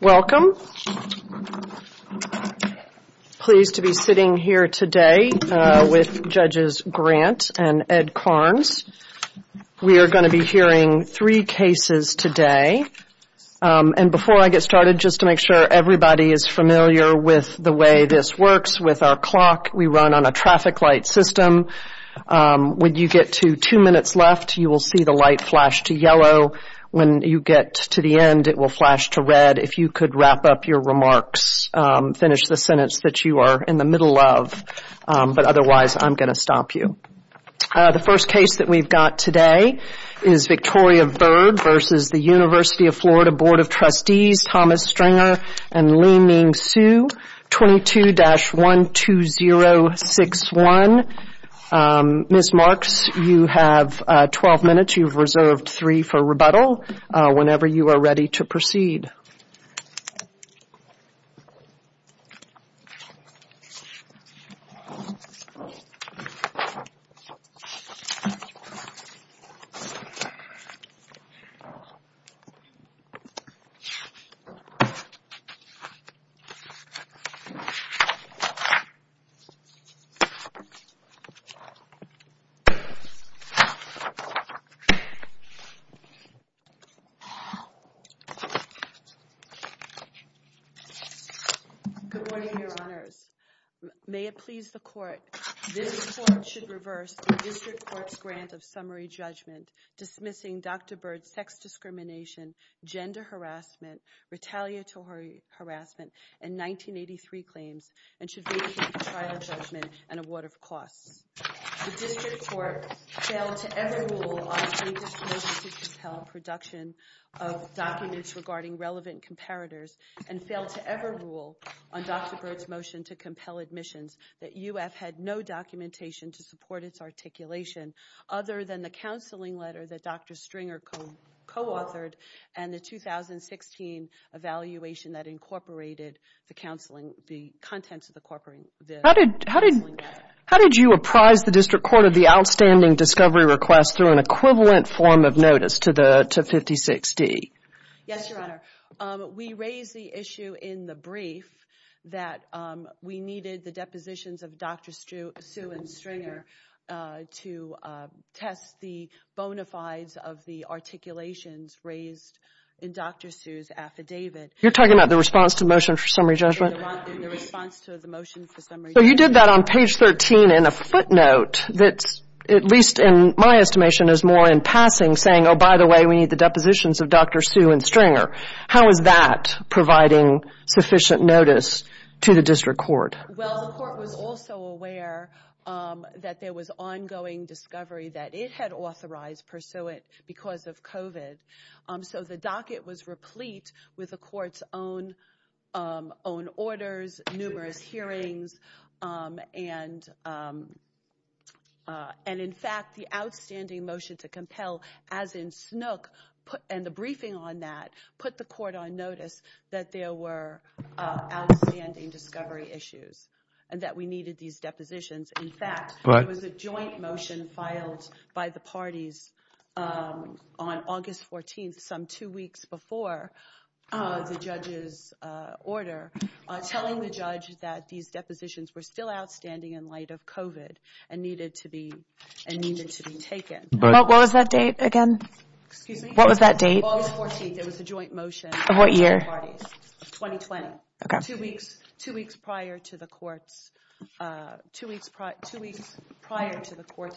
Welcome. Pleased to be sitting here today with Judges Grant and Ed Karnes. We are going to be hearing three cases today. And before I get started, just to make sure everybody is familiar with the way this works with our clock, we run on a traffic light system. When you get to two minutes left, you will see the light flash to yellow. When you get to the end, it will flash to red. If you could wrap up your remarks, finish the sentence that you are in the middle of. But otherwise, I'm going to stop you. The first case that we've got today is Victoria Bird v. University of Florida Board of Trustees, Thomas Stringer and Li Ming Su, 22-12061. Ms. Marks, you have 12 minutes. You've reserved three for rebuttal whenever you are ready to proceed. Good morning, Your Honors. May it please the Court, this Court should reverse the District Court's grant of summary judgment dismissing Dr. Bird's sex discrimination, gender harassment, retaliatory harassment, and 1983 claims and should vacate the trial judgment and award of costs. The District Court failed to ever rule on Dr. Bird's motion to compel production of documents regarding relevant comparators and failed to ever rule on Dr. Bird's motion to compel admissions that UF had no documentation to support its and the 2016 evaluation that incorporated the contents of the counseling. How did you apprise the District Court of the outstanding discovery request through an equivalent form of notice to 56D? Yes, Your Honor. We raised the issue in the brief that we needed the depositions of Dr. Su and Stringer to test the bona fides of the articulations raised in Dr. Su's affidavit. You're talking about the response to the motion for summary judgment? In the response to the motion for summary judgment. So you did that on page 13 in a footnote that's, at least in my estimation, is more in passing, saying, oh, by the way, we need the depositions of Dr. Su and Stringer. How is that providing sufficient notice to the District Court? Well, the Court was also aware that there was ongoing discovery that it had authorized Pursuant because of COVID. So the docket was replete with the Court's own orders, numerous hearings, and in fact, the outstanding motion to compel, as in Snook, and the briefing on that, put the Court on notice that there were outstanding discovery issues and that we needed these depositions. In fact, there was a joint motion filed by the parties on August 14, some two weeks before the judge's order, telling the judge that these depositions were still outstanding in light of COVID and needed to be taken. What was that date again? What was that date? August 14. There was a joint motion. What year? 2020. Two weeks prior to the Court's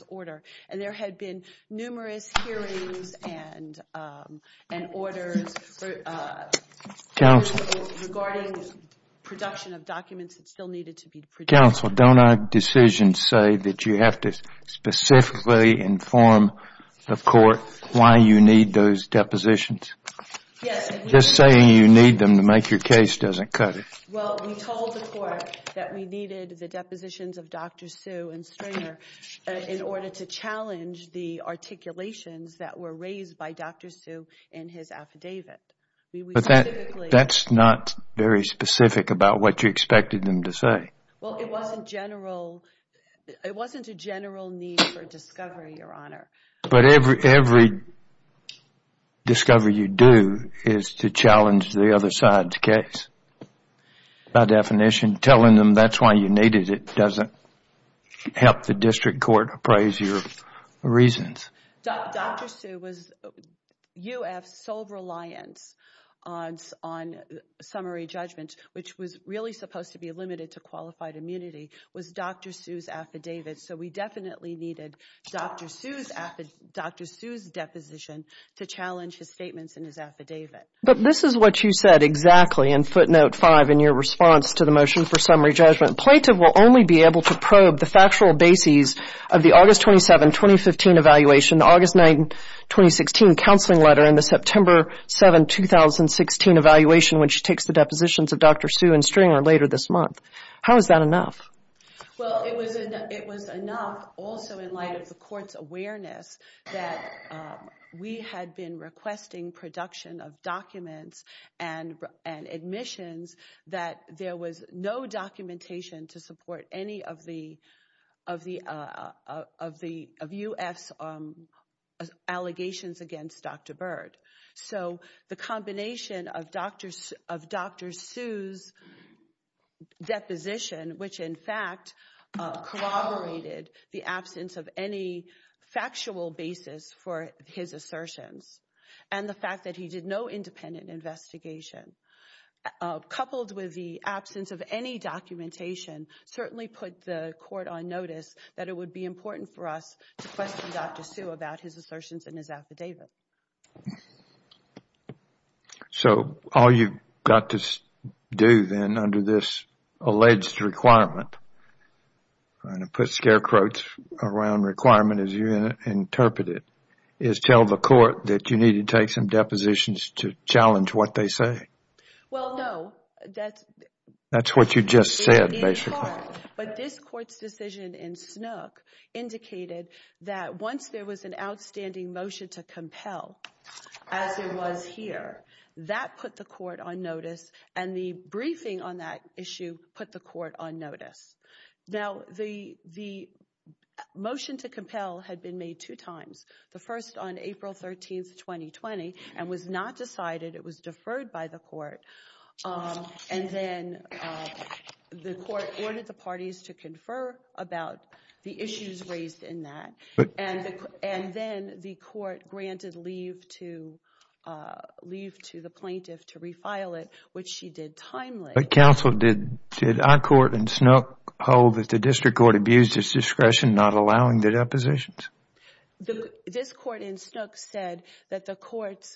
order. There had been numerous hearings and orders regarding the production of documents that still needed to be produced. Counsel, don't our decisions say that you have to specifically inform the Court why you need those depositions? Just saying you need them to make your case doesn't cut it. Well, we told the Court that we needed the depositions of Dr. Sue and Stringer in order to challenge the articulations that were raised by Dr. Sue in his affidavit. That's not very specific about what you expected them to say. Well, it wasn't a general need for discovery, Your Honor. But every discovery you do is to challenge the other side's case. By definition, telling them that's why you needed it doesn't help the District Court appraise your reasons. Dr. Sue, UF's sole reliance on summary judgment, which was really supposed to be limited to Dr. Sue's deposition, to challenge his statements in his affidavit. But this is what you said exactly in footnote 5 in your response to the motion for summary judgment. Plaintiff will only be able to probe the factual bases of the August 27, 2015 evaluation, August 9, 2016 counseling letter, and the September 7, 2016 evaluation when she takes the depositions of Dr. Sue and Stringer later this month. How is that enough? Well, it was enough also in light of the Court's awareness that we had been requesting production of documents and admissions that there was no documentation to support any of UF's allegations against Dr. Byrd. So the combination of Dr. Sue's deposition, which in fact was a document that in fact corroborated the absence of any factual basis for his assertions, and the fact that he did no independent investigation, coupled with the absence of any documentation, certainly put the Court on notice that it would be important for us to question Dr. Sue about his assertions in his affidavit. So, all you've got to do then under this alleged requirement, and to put scare quotes around requirement as you interpret it, is tell the Court that you need to take some depositions to challenge what they say? Well, no. That's what you just said, basically. In part, but this Court's decision in Snook indicated that once there was an outstanding motion to compel, as there was here, that put the Court on notice, and the briefing on that issue put the Court on notice. Now, the motion to compel had been made two times, the first on April 13, 2020, and was not decided. It was deferred by the Court, and then the Court granted leave to the plaintiff to refile it, which she did timely. Counsel, did our Court in Snook hold that the District Court abused its discretion not allowing the depositions? This Court in Snook said that the Court's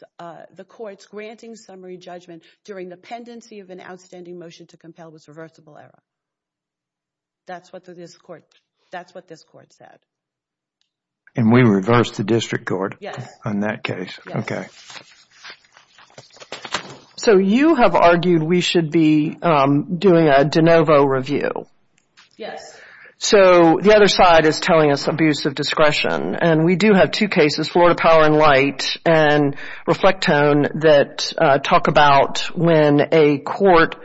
granting summary judgment during the pendency of an outstanding motion to compel was reversible error. That's what this Court said. And we reversed the District Court on that case. Yes. So you have argued we should be doing a de novo review? Yes. So the other side is telling us abuse of discretion, and we do have two cases, Florida Power and Light and Reflectone, that talk about when a Court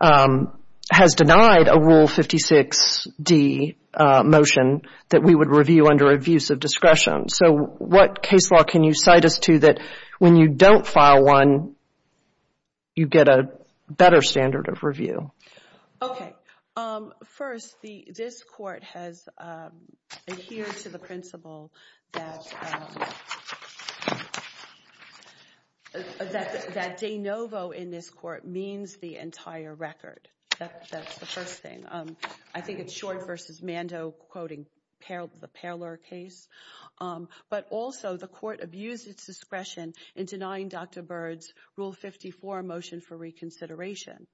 has denied a Rule 56d motion that we would review under abuse of discretion. So what case law can you cite us to that when you don't file one, you get a better standard of review? Okay. First, this Court has adhered to the principle that de novo in this Court means the entire record. That's the first thing. I think it's Short v. Mando quoting the Parler case. But also, the Court abused its discretion in denying Dr. Byrd's Rule 54 motion for reconsideration.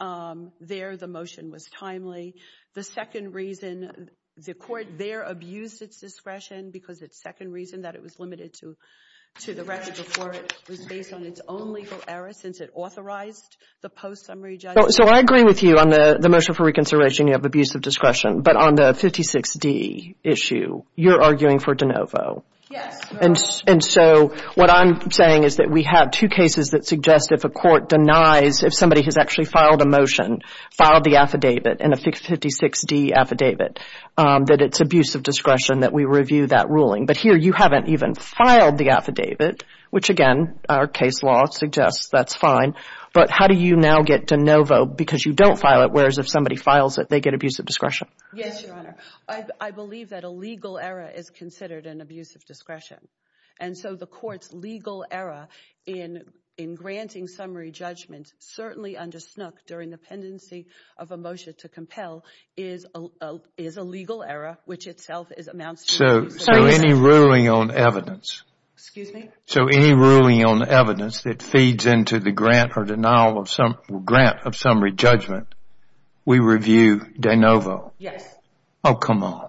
There the motion was timely. The second reason the Court there abused its discretion because its second reason that it was limited to the record before it was based on its own legal error since it authorized the post-summary judgment. So I agree with you on the motion for reconsideration, you have abuse of discretion. But on the 56d issue, you're arguing for de novo. Yes. And so what I'm saying is that we have two cases that suggest if a Court denies, if somebody has actually filed a motion, filed the affidavit in a 56d affidavit, that it's abuse of discretion that we review that ruling. But here, you haven't even filed the affidavit, which again, our case law suggests that's fine. But how do you now get de novo because you don't file it, whereas if somebody files it, they get abuse of discretion? Yes, Your Honor. I believe that a legal error is considered an abuse of discretion. And so the Court's legal error in granting summary judgment, certainly under Snook, during the pendency of a motion to compel, is a legal error, which itself amounts to abuse of discretion. So any ruling on evidence? Excuse me? So any ruling on evidence that feeds into the grant or denial of some grant of summary judgment, we review de novo? Yes. Oh, come on.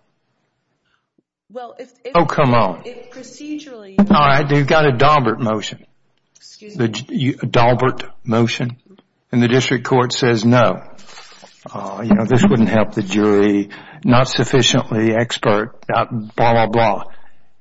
Well, if... Oh, come on. If procedurally... All right, you've got a Daubert motion. Excuse me? A Daubert motion. And the District Court says no. You know, this wouldn't help the jury. Not sufficiently expert, blah, blah, blah.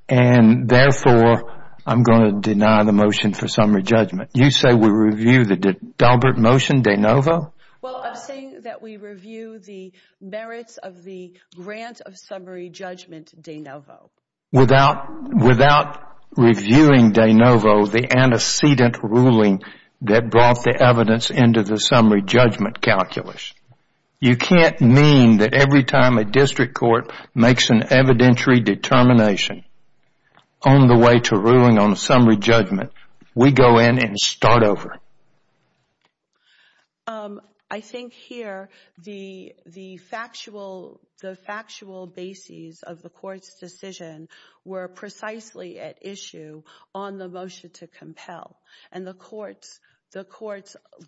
And therefore, I'm going to deny the motion for summary judgment. You say we review the Daubert motion de novo? Well, I'm saying that we review the merits of the grant of summary judgment de novo. Without reviewing de novo, the antecedent ruling that brought the evidence into the time of District Court makes an evidentiary determination. On the way to ruling on summary judgment, we go in and start over. I think here the factual bases of the Court's decision were precisely at issue on the motion to compel. And the Court's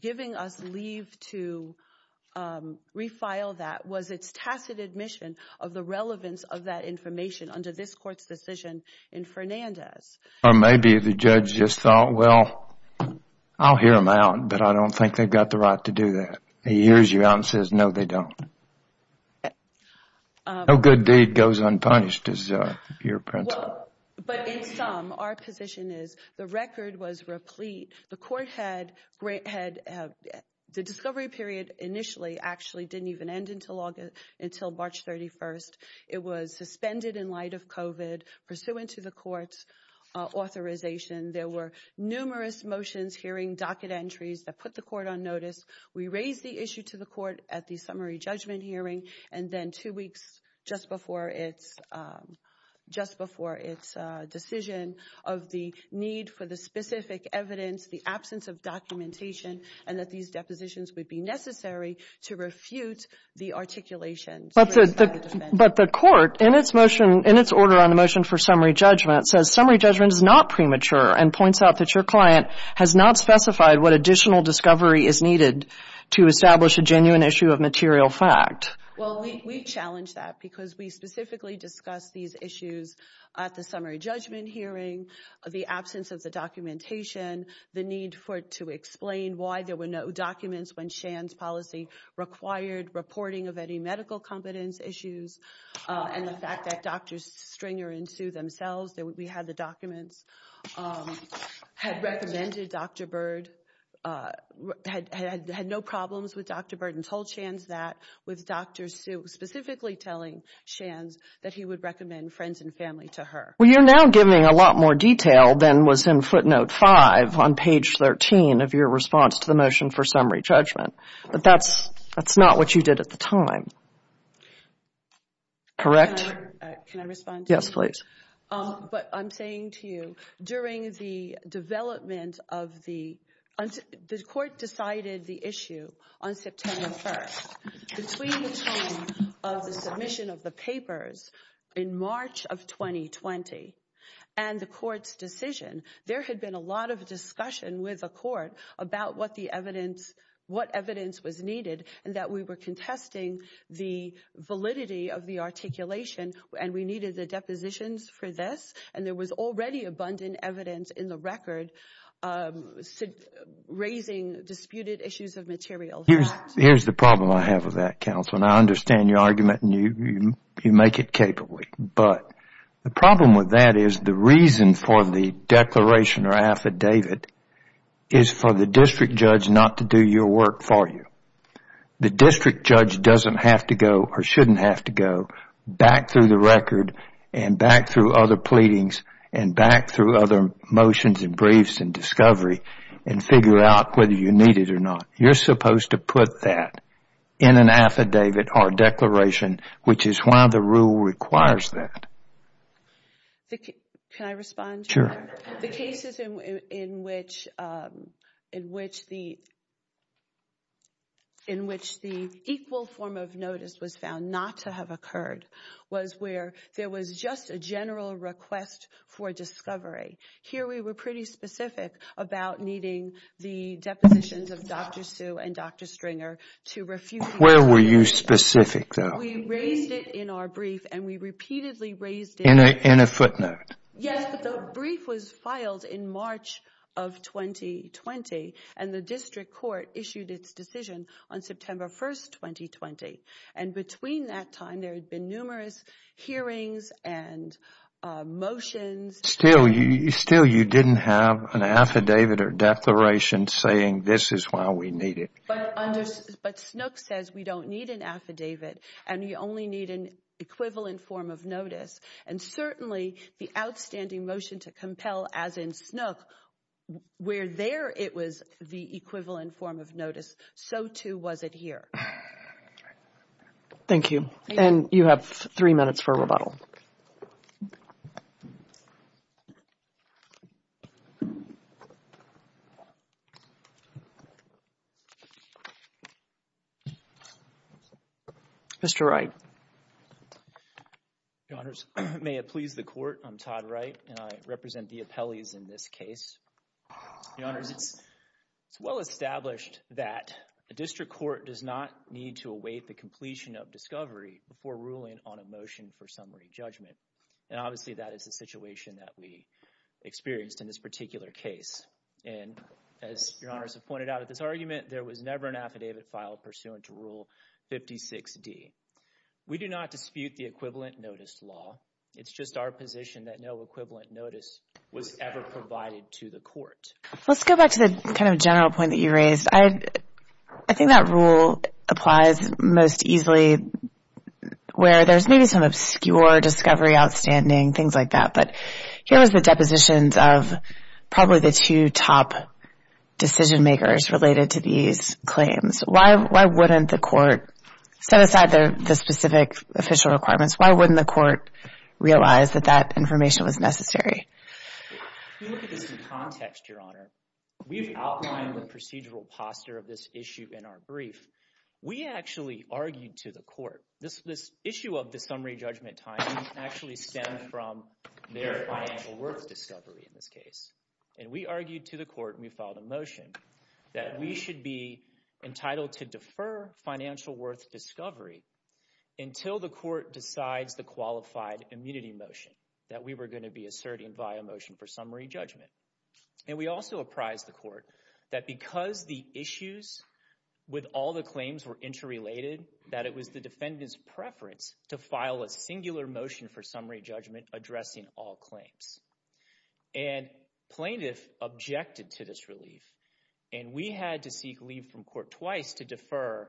giving us leave to refile that was its tacit admonition to the relevance of that information under this Court's decision in Fernandez. Maybe the judge just thought, well, I'll hear them out, but I don't think they've got the right to do that. He hears you out and says, no, they don't. No good deed goes unpunished is your principle. But in sum, our position is the record was replete. The Court had... The discovery period initially actually didn't even end until March 31st. It was suspended in light of COVID pursuant to the Court's authorization. There were numerous motions, hearing docket entries that put the Court on notice. We raised the issue to the Court at the summary judgment hearing and then two weeks just before its decision of the need for the specific evidence, the absence of documentation, and that these depositions would be necessary to refute the articulations raised by the defense. But the Court, in its motion, in its order on the motion for summary judgment, says summary judgment is not premature and points out that your client has not specified what additional discovery is needed to establish a genuine issue of material fact. Well, we challenge that because we specifically discuss these issues at the summary judgment hearing, the absence of the documentation, the need to explain why there were no documents when Shan's policy required reporting of any medical competence issues, and the fact that Drs. Stringer and Hsu themselves, we had the documents, had recommended Dr. Bird, had no problems with Dr. Bird and told Shan's that with Dr. Hsu specifically telling Shan's that he would recommend Friends and Family to her. Well, you're now giving a lot more detail than was in footnote 5 on page 13 of your response to the motion for summary judgment. But that's not what you did at the time. Correct? Can I respond to that? Yes, please. But I'm saying to you, during the development of the, the Court decided the issue on September 1st. Between the time of the submission of the papers in March of 2020 and the Court's decision, there had been a lot of discussion with the Court about what the evidence, what evidence was needed and that we were contesting the validity of the articulation and we needed the depositions for this. And there was already abundant evidence in the record raising disputed issues of material Here's the problem I have with that, counsel, and I understand your argument and you make it capable. But the problem with that is the reason for the declaration or affidavit is for the district judge not to do your work for you. The district judge doesn't have to go or shouldn't have to go back through the record and back through other pleadings and back through other motions and briefs and discovery and figure out whether you need it or not. You're supposed to put that in an affidavit or declaration, which is why the rule requires that. Can I respond? Sure. The cases in which, in which the, in which the equal form of notice was found not to have occurred was where there was just a general request for discovery. Here we were pretty specific about needing the depositions of Dr. Sue and Dr. Stringer to refuse. Where were you specific though? We raised it in our brief and we repeatedly raised it. In a footnote? Yes, the brief was filed in March of 2020 and the district court issued its decision on September 1st, 2020. And between that time there had been numerous hearings and motions. Still you, still you didn't have an affidavit or declaration saying this is why we need it. But under, but Snook says we don't need an affidavit and we only need an equivalent form of notice. And certainly the outstanding motion to compel, as in Snook, where there it was the equivalent form of notice, so too was it here. Thank you. And you have three minutes for rebuttal. Mr. Wright. Your Honors, may it please the court, I'm Todd Wright and I represent the appellees in this case. Your Honors, it's well established that a district court does not need to await the And obviously that is the situation that we experienced in this particular case. And as Your Honors have pointed out at this argument, there was never an affidavit filed pursuant to Rule 56D. We do not dispute the equivalent notice law. It's just our position that no equivalent notice was ever provided to the court. Let's go back to the kind of general point that you raised. I think that rule applies most easily where there's maybe some obscure discovery, outstanding, things like that. But here was the depositions of probably the two top decision-makers related to these claims. Why wouldn't the court, set aside the specific official requirements, why wouldn't the court realize that that information was necessary? If you look at this in context, Your Honor, we've outlined the procedural policy. We've outlined the posture of this issue in our brief. We actually argued to the court, this issue of the summary judgment timing actually stemmed from their financial worth discovery in this case. And we argued to the court and we filed a motion that we should be entitled to defer financial worth discovery until the court decides the qualified immunity motion that we were going to be asserting via motion for summary judgment. And we also apprised the court that because the issues with all the claims were interrelated, that it was the defendant's preference to file a singular motion for summary judgment addressing all claims. And plaintiff objected to this relief and we had to seek leave from court twice to defer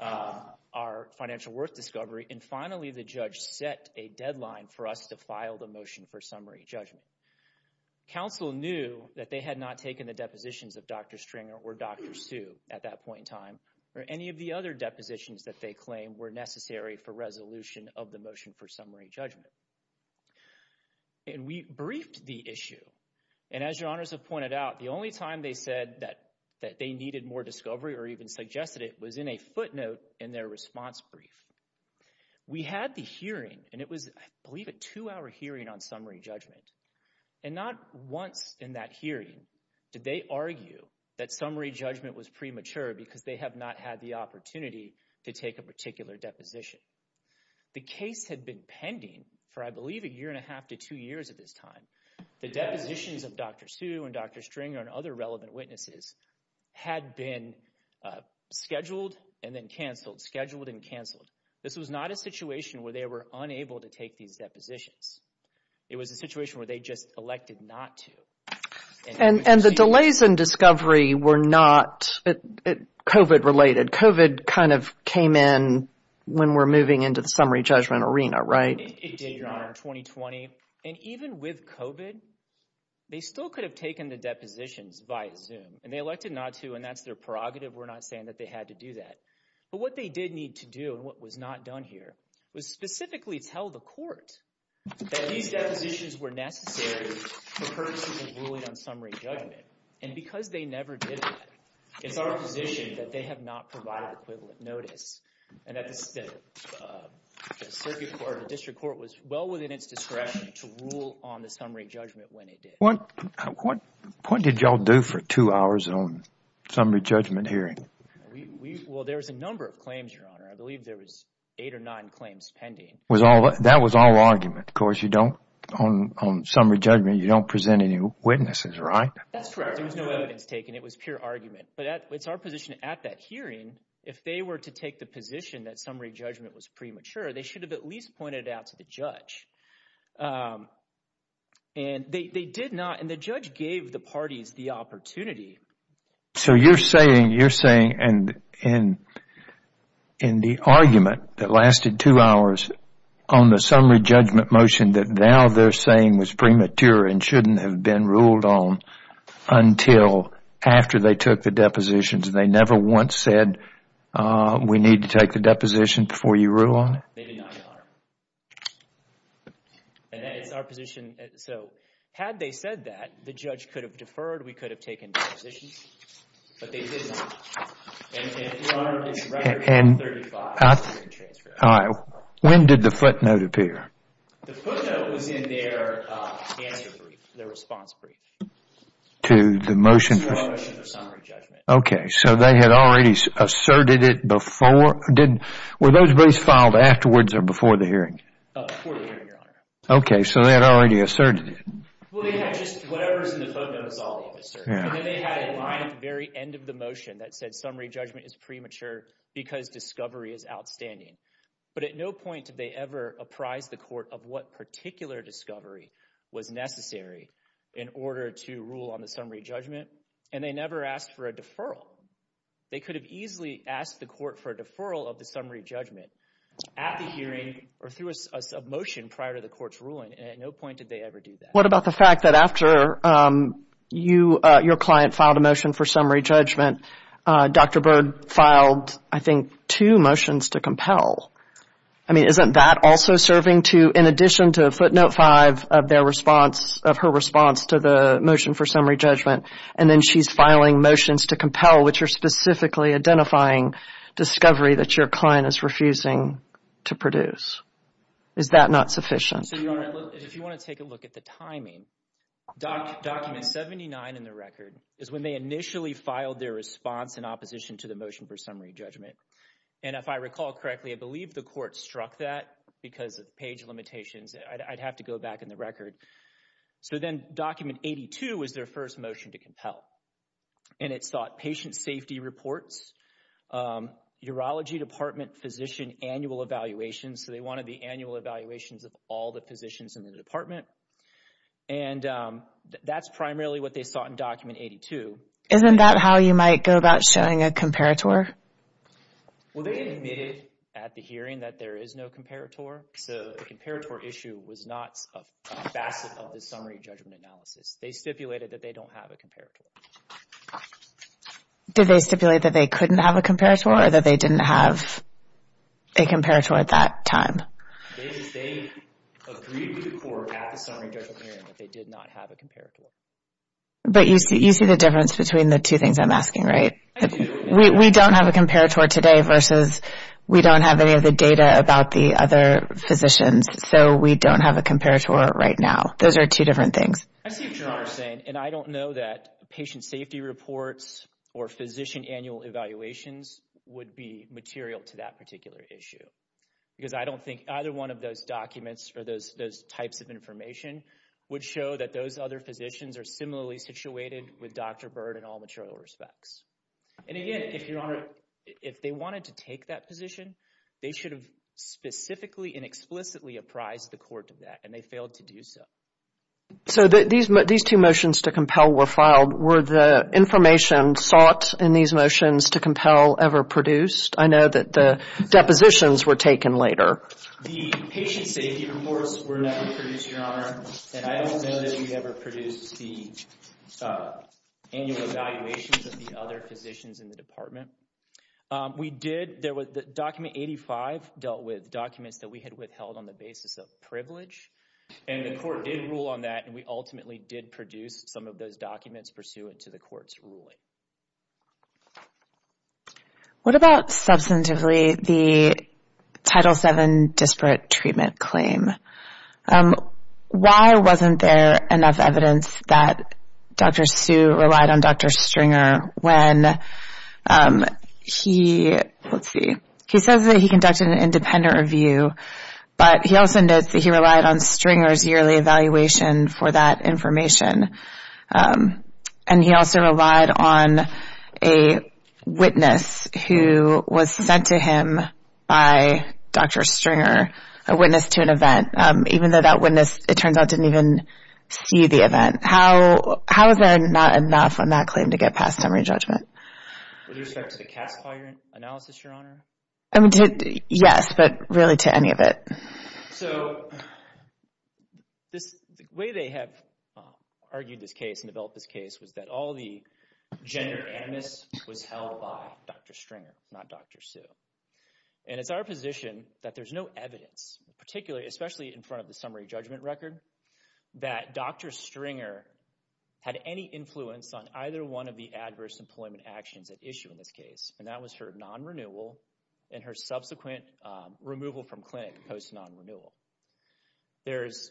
our financial worth discovery and finally the judge set a deadline for us to file the motion for summary judgment. Counsel knew that they had not taken the depositions of Dr. Stringer or Dr. Sioux at that point in time or any of the other depositions that they claimed were necessary for resolution of the motion for summary judgment. And we briefed the issue. And as Your Honors have pointed out, the only time they said that they needed more discovery or even suggested it was in a footnote in their response brief. We had the hearing and it was, I believe, a two-hour hearing on summary judgment. And not once in that hearing did they argue that summary judgment was premature because they have not had the opportunity to take a particular deposition. The case had been pending for, I believe, a year and a half to two years at this time. The depositions of Dr. Sioux and Dr. Stringer and other relevant witnesses had been scheduled and then canceled, scheduled and canceled. This was not a situation where they were unable to take these depositions. It was a situation where they just elected not to. And the delays in discovery were not COVID-related. COVID kind of came in when we're moving into the summary judgment arena, right? It did, Your Honor, 2020. And even with COVID, they still could have taken the depositions via Zoom and they elected not to. And that's their prerogative. We're not saying that they had to do that. But what they did need to do and what was not done here was specifically tell the court that these depositions were necessary for purposes of ruling on summary judgment. And because they never did that, it's our position that they have not provided equivalent notice and that the circuit court, the district court was well within its discretion to rule on the summary judgment when it did. What did y'all do for two hours on summary judgment hearing? Well, there was a number of claims, Your Honor. I believe there was eight or nine claims pending. That was all argument. Of course, you don't, on summary judgment, you don't present any witnesses, right? That's right. There was no evidence taken. It was pure argument. But it's our position at that hearing, if they were to take the position that summary judgment was premature, they should have at least pointed it out to the judge. And they did not and the judge gave the parties the opportunity. So you're saying, you're saying in the argument that lasted two hours on the summary judgment motion that now they're saying was premature and shouldn't have been ruled on until after they took the depositions and they never once said we need to take the deposition before Maybe not, Your Honor. And that is our position. So had they said that, the judge could have deferred. We could have taken depositions. But they did not. And, Your Honor, it's record number 35. All right. When did the footnote appear? The footnote was in their answer brief. Their response brief. To the motion? To our motion for summary judgment. Before the hearing. Before the hearing. Before the hearing. Before the hearing. Before the hearing. Before the hearing. Before the hearing. Okay. So they had already asserted it. Well, they had just whatever was in the footnote was already asserted. And then they had a line at the very end of the motion that said summary judgment is premature because discovery is outstanding. But at no point did they ever apprise the court of what particular discovery was necessary in order to rule on the summary judgment. And they never asked for a deferral. They could have easily asked the court for a deferral of the summary judgment at the hearing or through a motion prior to the court's ruling. And at no point did they ever do that. What about the fact that after you, your client, filed a motion for summary judgment, Dr. Byrd filed, I think, two motions to compel. I mean, isn't that also serving to, in addition to footnote five of their response, of her response to the motion for summary judgment, and then she's filing motions to compel which are specifically identifying discovery that your client is refusing to produce. Is that not sufficient? So, Your Honor, if you want to take a look at the timing, document 79 in the record is when they initially filed their response in opposition to the motion for summary judgment. And if I recall correctly, I believe the court struck that because of page limitations. I'd have to go back in the record. So then document 82 was their first motion to compel. And it sought patient safety reports, urology department physician annual evaluations. So they wanted the annual evaluations of all the physicians in the department. And that's primarily what they sought in document 82. Isn't that how you might go about showing a comparator? Well, they admitted at the hearing that there is no comparator. So the comparator issue was not a facet of the summary judgment analysis. They stipulated that they don't have a comparator. Did they stipulate that they couldn't have a comparator or that they didn't have a comparator at that time? They agreed with the court at the summary judgment hearing that they did not have a comparator. But you see the difference between the two things I'm asking, right? We don't have a comparator today versus we don't have any of the data about the other physicians. So we don't have a comparator right now. Those are two different things. I see what you're saying. And I don't know that patient safety reports or physician annual evaluations would be material to that particular issue. Because I don't think either one of those documents or those types of information would show that those other physicians are similarly situated with Dr. Byrd in all material respects. And again, if your honor, if they wanted to take that position, they should have specifically and explicitly apprised the court of that and they failed to do so. So these two motions to compel were filed, were the information sought in these motions to compel ever produced? I know that the depositions were taken later. The patient safety reports were never produced, your honor. And I don't know that we ever produced the annual evaluations of the other physicians in the department. We did, there was, document 85 dealt with documents that we had withheld on the basis of privilege. And the court did rule on that and we ultimately did produce some of those documents pursuant to the court's ruling. What about substantively the Title VII disparate treatment claim? Why wasn't there enough evidence that Dr. Sue relied on Dr. Stringer when he, let's call it, relied on Stringer's yearly evaluation for that information? And he also relied on a witness who was sent to him by Dr. Stringer, a witness to an event, even though that witness, it turns out, didn't even see the event. How is there not enough on that claim to get past summary judgment? With respect to the CAS file analysis, your honor? Yes, but really to any of it. So, the way they have argued this case and developed this case was that all the gender animus was held by Dr. Stringer, not Dr. Sue. And it's our position that there's no evidence, particularly, especially in front of the summary judgment record, that Dr. Stringer had any influence on either one of the adverse employment actions at issue in this case, and that was her non-renewal and her subsequent removal from clinic post-non-renewal. There's...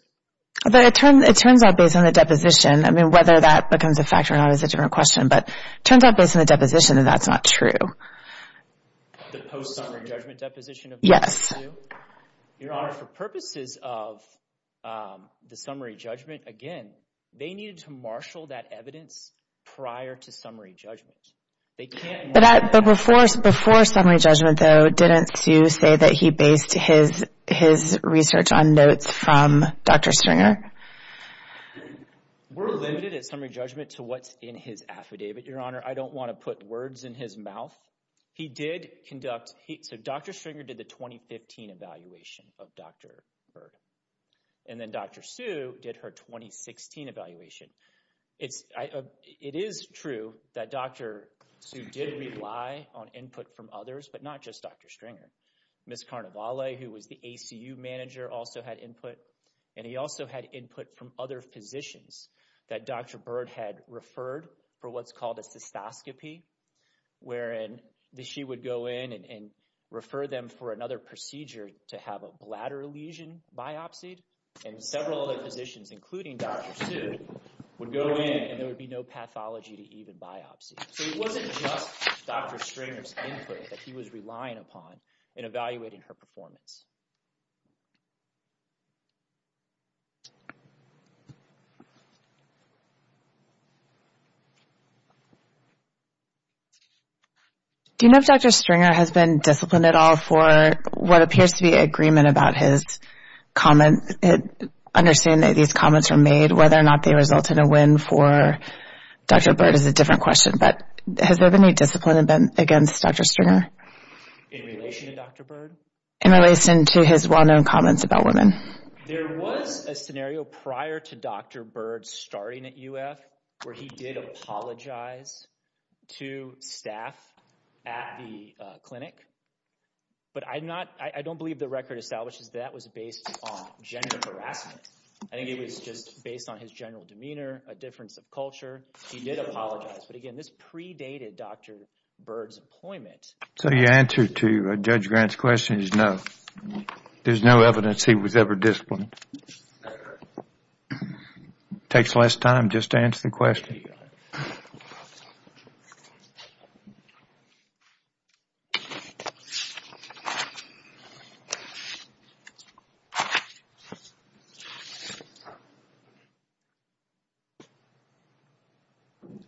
But it turns out, based on the deposition, I mean, whether that becomes a fact or not is a different question, but it turns out, based on the deposition, that that's not true. The post-summary judgment deposition of Dr. Sue? Yes. Your honor, for purposes of the summary judgment, again, they needed to marshal that evidence prior to summary judgment. They can't... But before summary judgment, though, didn't Sue say that he based his research on notes from Dr. Stringer? We're limited at summary judgment to what's in his affidavit, your honor. I don't want to put words in his mouth. He did conduct... So, Dr. Stringer did the 2015 evaluation of Dr. Bird, and then Dr. Sue did her 2016 evaluation. It is true that Dr. Sue did rely on input from others, but not just Dr. Stringer. Ms. Carnevale, who was the ACU manager, also had input, and he also had input from other physicians that Dr. Bird had referred for what's called a cystoscopy, wherein she would go in and refer them for another procedure to have a bladder lesion biopsied, and several other physicians, including Dr. Sue, would go in, and there would be no pathology to even biopsy. So, it wasn't just Dr. Stringer's input that he was relying upon in evaluating her performance. Do you know if Dr. Stringer has been disciplined at all for what appears to be agreement about his comment, understanding that these comments were made, whether or not they resulted in a win for Dr. Bird is a different question, but has there been any discipline against Dr. Stringer? In relation to Dr. Bird? In relation to his well-known comments about women. There was a scenario prior to Dr. Bird starting at UF where he did apologize to staff at the hospital, but that was based on gender harassment. I think it was just based on his general demeanor, a difference of culture. He did apologize, but again, this predated Dr. Bird's employment. So, your answer to Judge Grant's question is no. There's no evidence he was ever disciplined. Takes less time just to answer the question.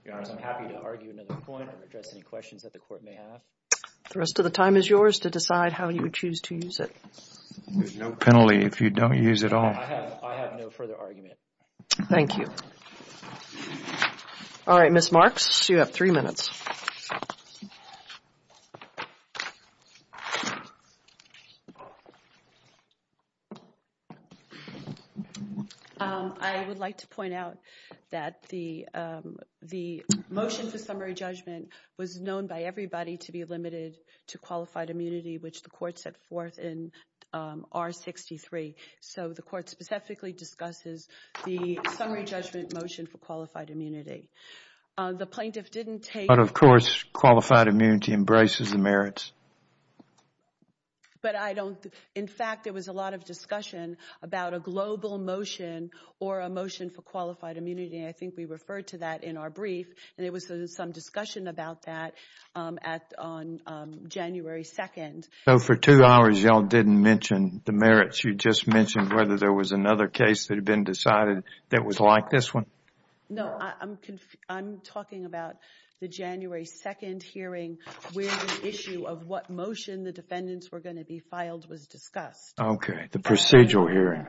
Your Honor, I'm happy to argue another point or address any questions that the court may have. The rest of the time is yours to decide how you would choose to use it. There's no penalty if you don't use it all. I have no further argument. Thank you. All right, Ms. Marks, you have three minutes. I would like to point out that the motion for summary judgment was known by everybody to be limited to qualified immunity, which the court set forth in R63. So, the court specifically discusses the summary judgment motion for qualified immunity. The plaintiff didn't take... But, of course, qualified immunity embraces the merits. But I don't... In fact, there was a lot of discussion about a global motion or a motion for qualified immunity. I think we referred to that in our brief. And there was some discussion about that on January 2nd. So, for two hours, y'all didn't mention the merits. You just mentioned whether there was another case that had been decided that was like this one? No, I'm talking about the January 2nd hearing where the issue of what motion the defendants were going to be filed was discussed. Okay, the procedural hearing.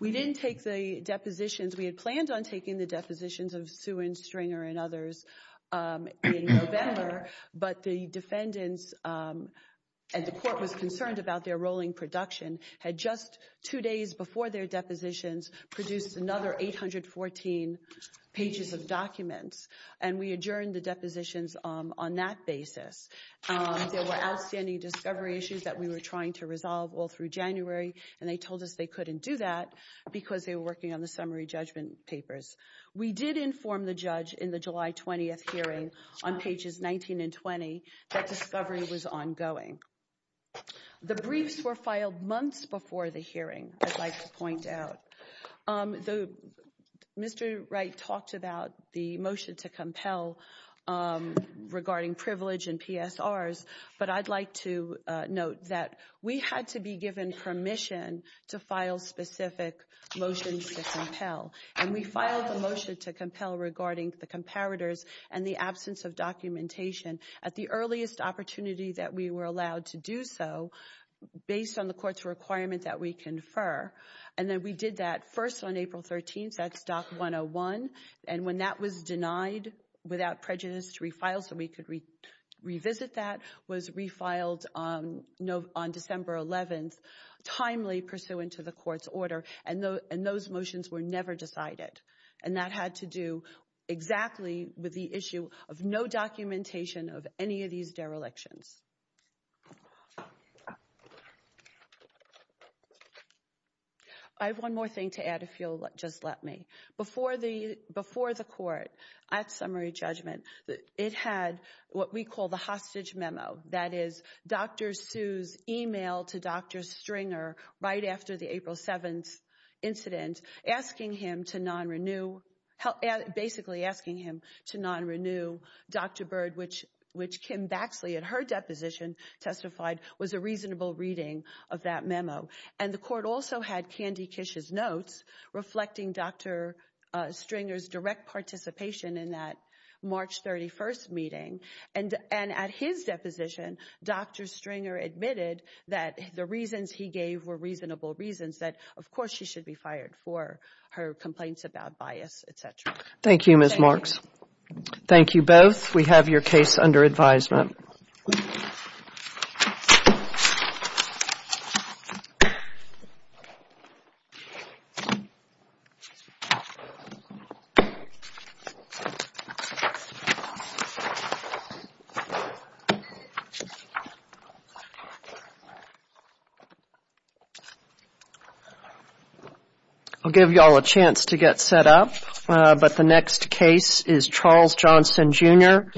We didn't take the depositions. We had planned on taking the depositions of Suen, Stringer, and others in November. But the defendants, and the court was concerned about their rolling production, had just two days before their depositions produced another 814 pages of documents. And we adjourned the depositions on that basis. There were outstanding discovery issues that we were trying to resolve all through January. And they told us they couldn't do that because they were working on the summary judgment papers. We did inform the judge in the July 20th hearing on pages 19 and 20 that discovery was ongoing. The briefs were filed months before the hearing, I'd like to point out. Mr. Wright talked about the motion to compel regarding privilege and PSRs, but I'd like to note that we had to be given permission to file specific motions to compel. And we filed the motion to compel regarding the comparators and the absence of documentation at the earliest opportunity that we were allowed to do so based on the court's requirement that we confer. And then we did that first on April 13th, that's Doc 101. And when that was denied without prejudice to refile so we could revisit that, was refiled on December 11th, timely pursuant to the court's order. And those motions were never decided. And that had to do exactly with the issue of no documentation of any of these derelictions. I have one more thing to add if you'll just let me. Before the court at summary judgment, it had what we call the hostage memo. That is Dr. Su's email to Dr. Stringer right after the April 7th incident asking him to non-renew, basically asking him to non-renew Dr. Bird which Kim Baxley at her deposition testified was a reasonable reading of that memo. And the court also had Candy Kish's notes reflecting Dr. Stringer's direct participation in that March 31st meeting. And at his deposition, Dr. Stringer admitted that the reasons he gave were reasonable reasons that of course she should be fired for her complaints about bias, etc. Thank you, Ms. Marks. Thank you both. We have your case under advisement. I'll give you all a chance to get set up but the next case is Charles Johnson, Jr.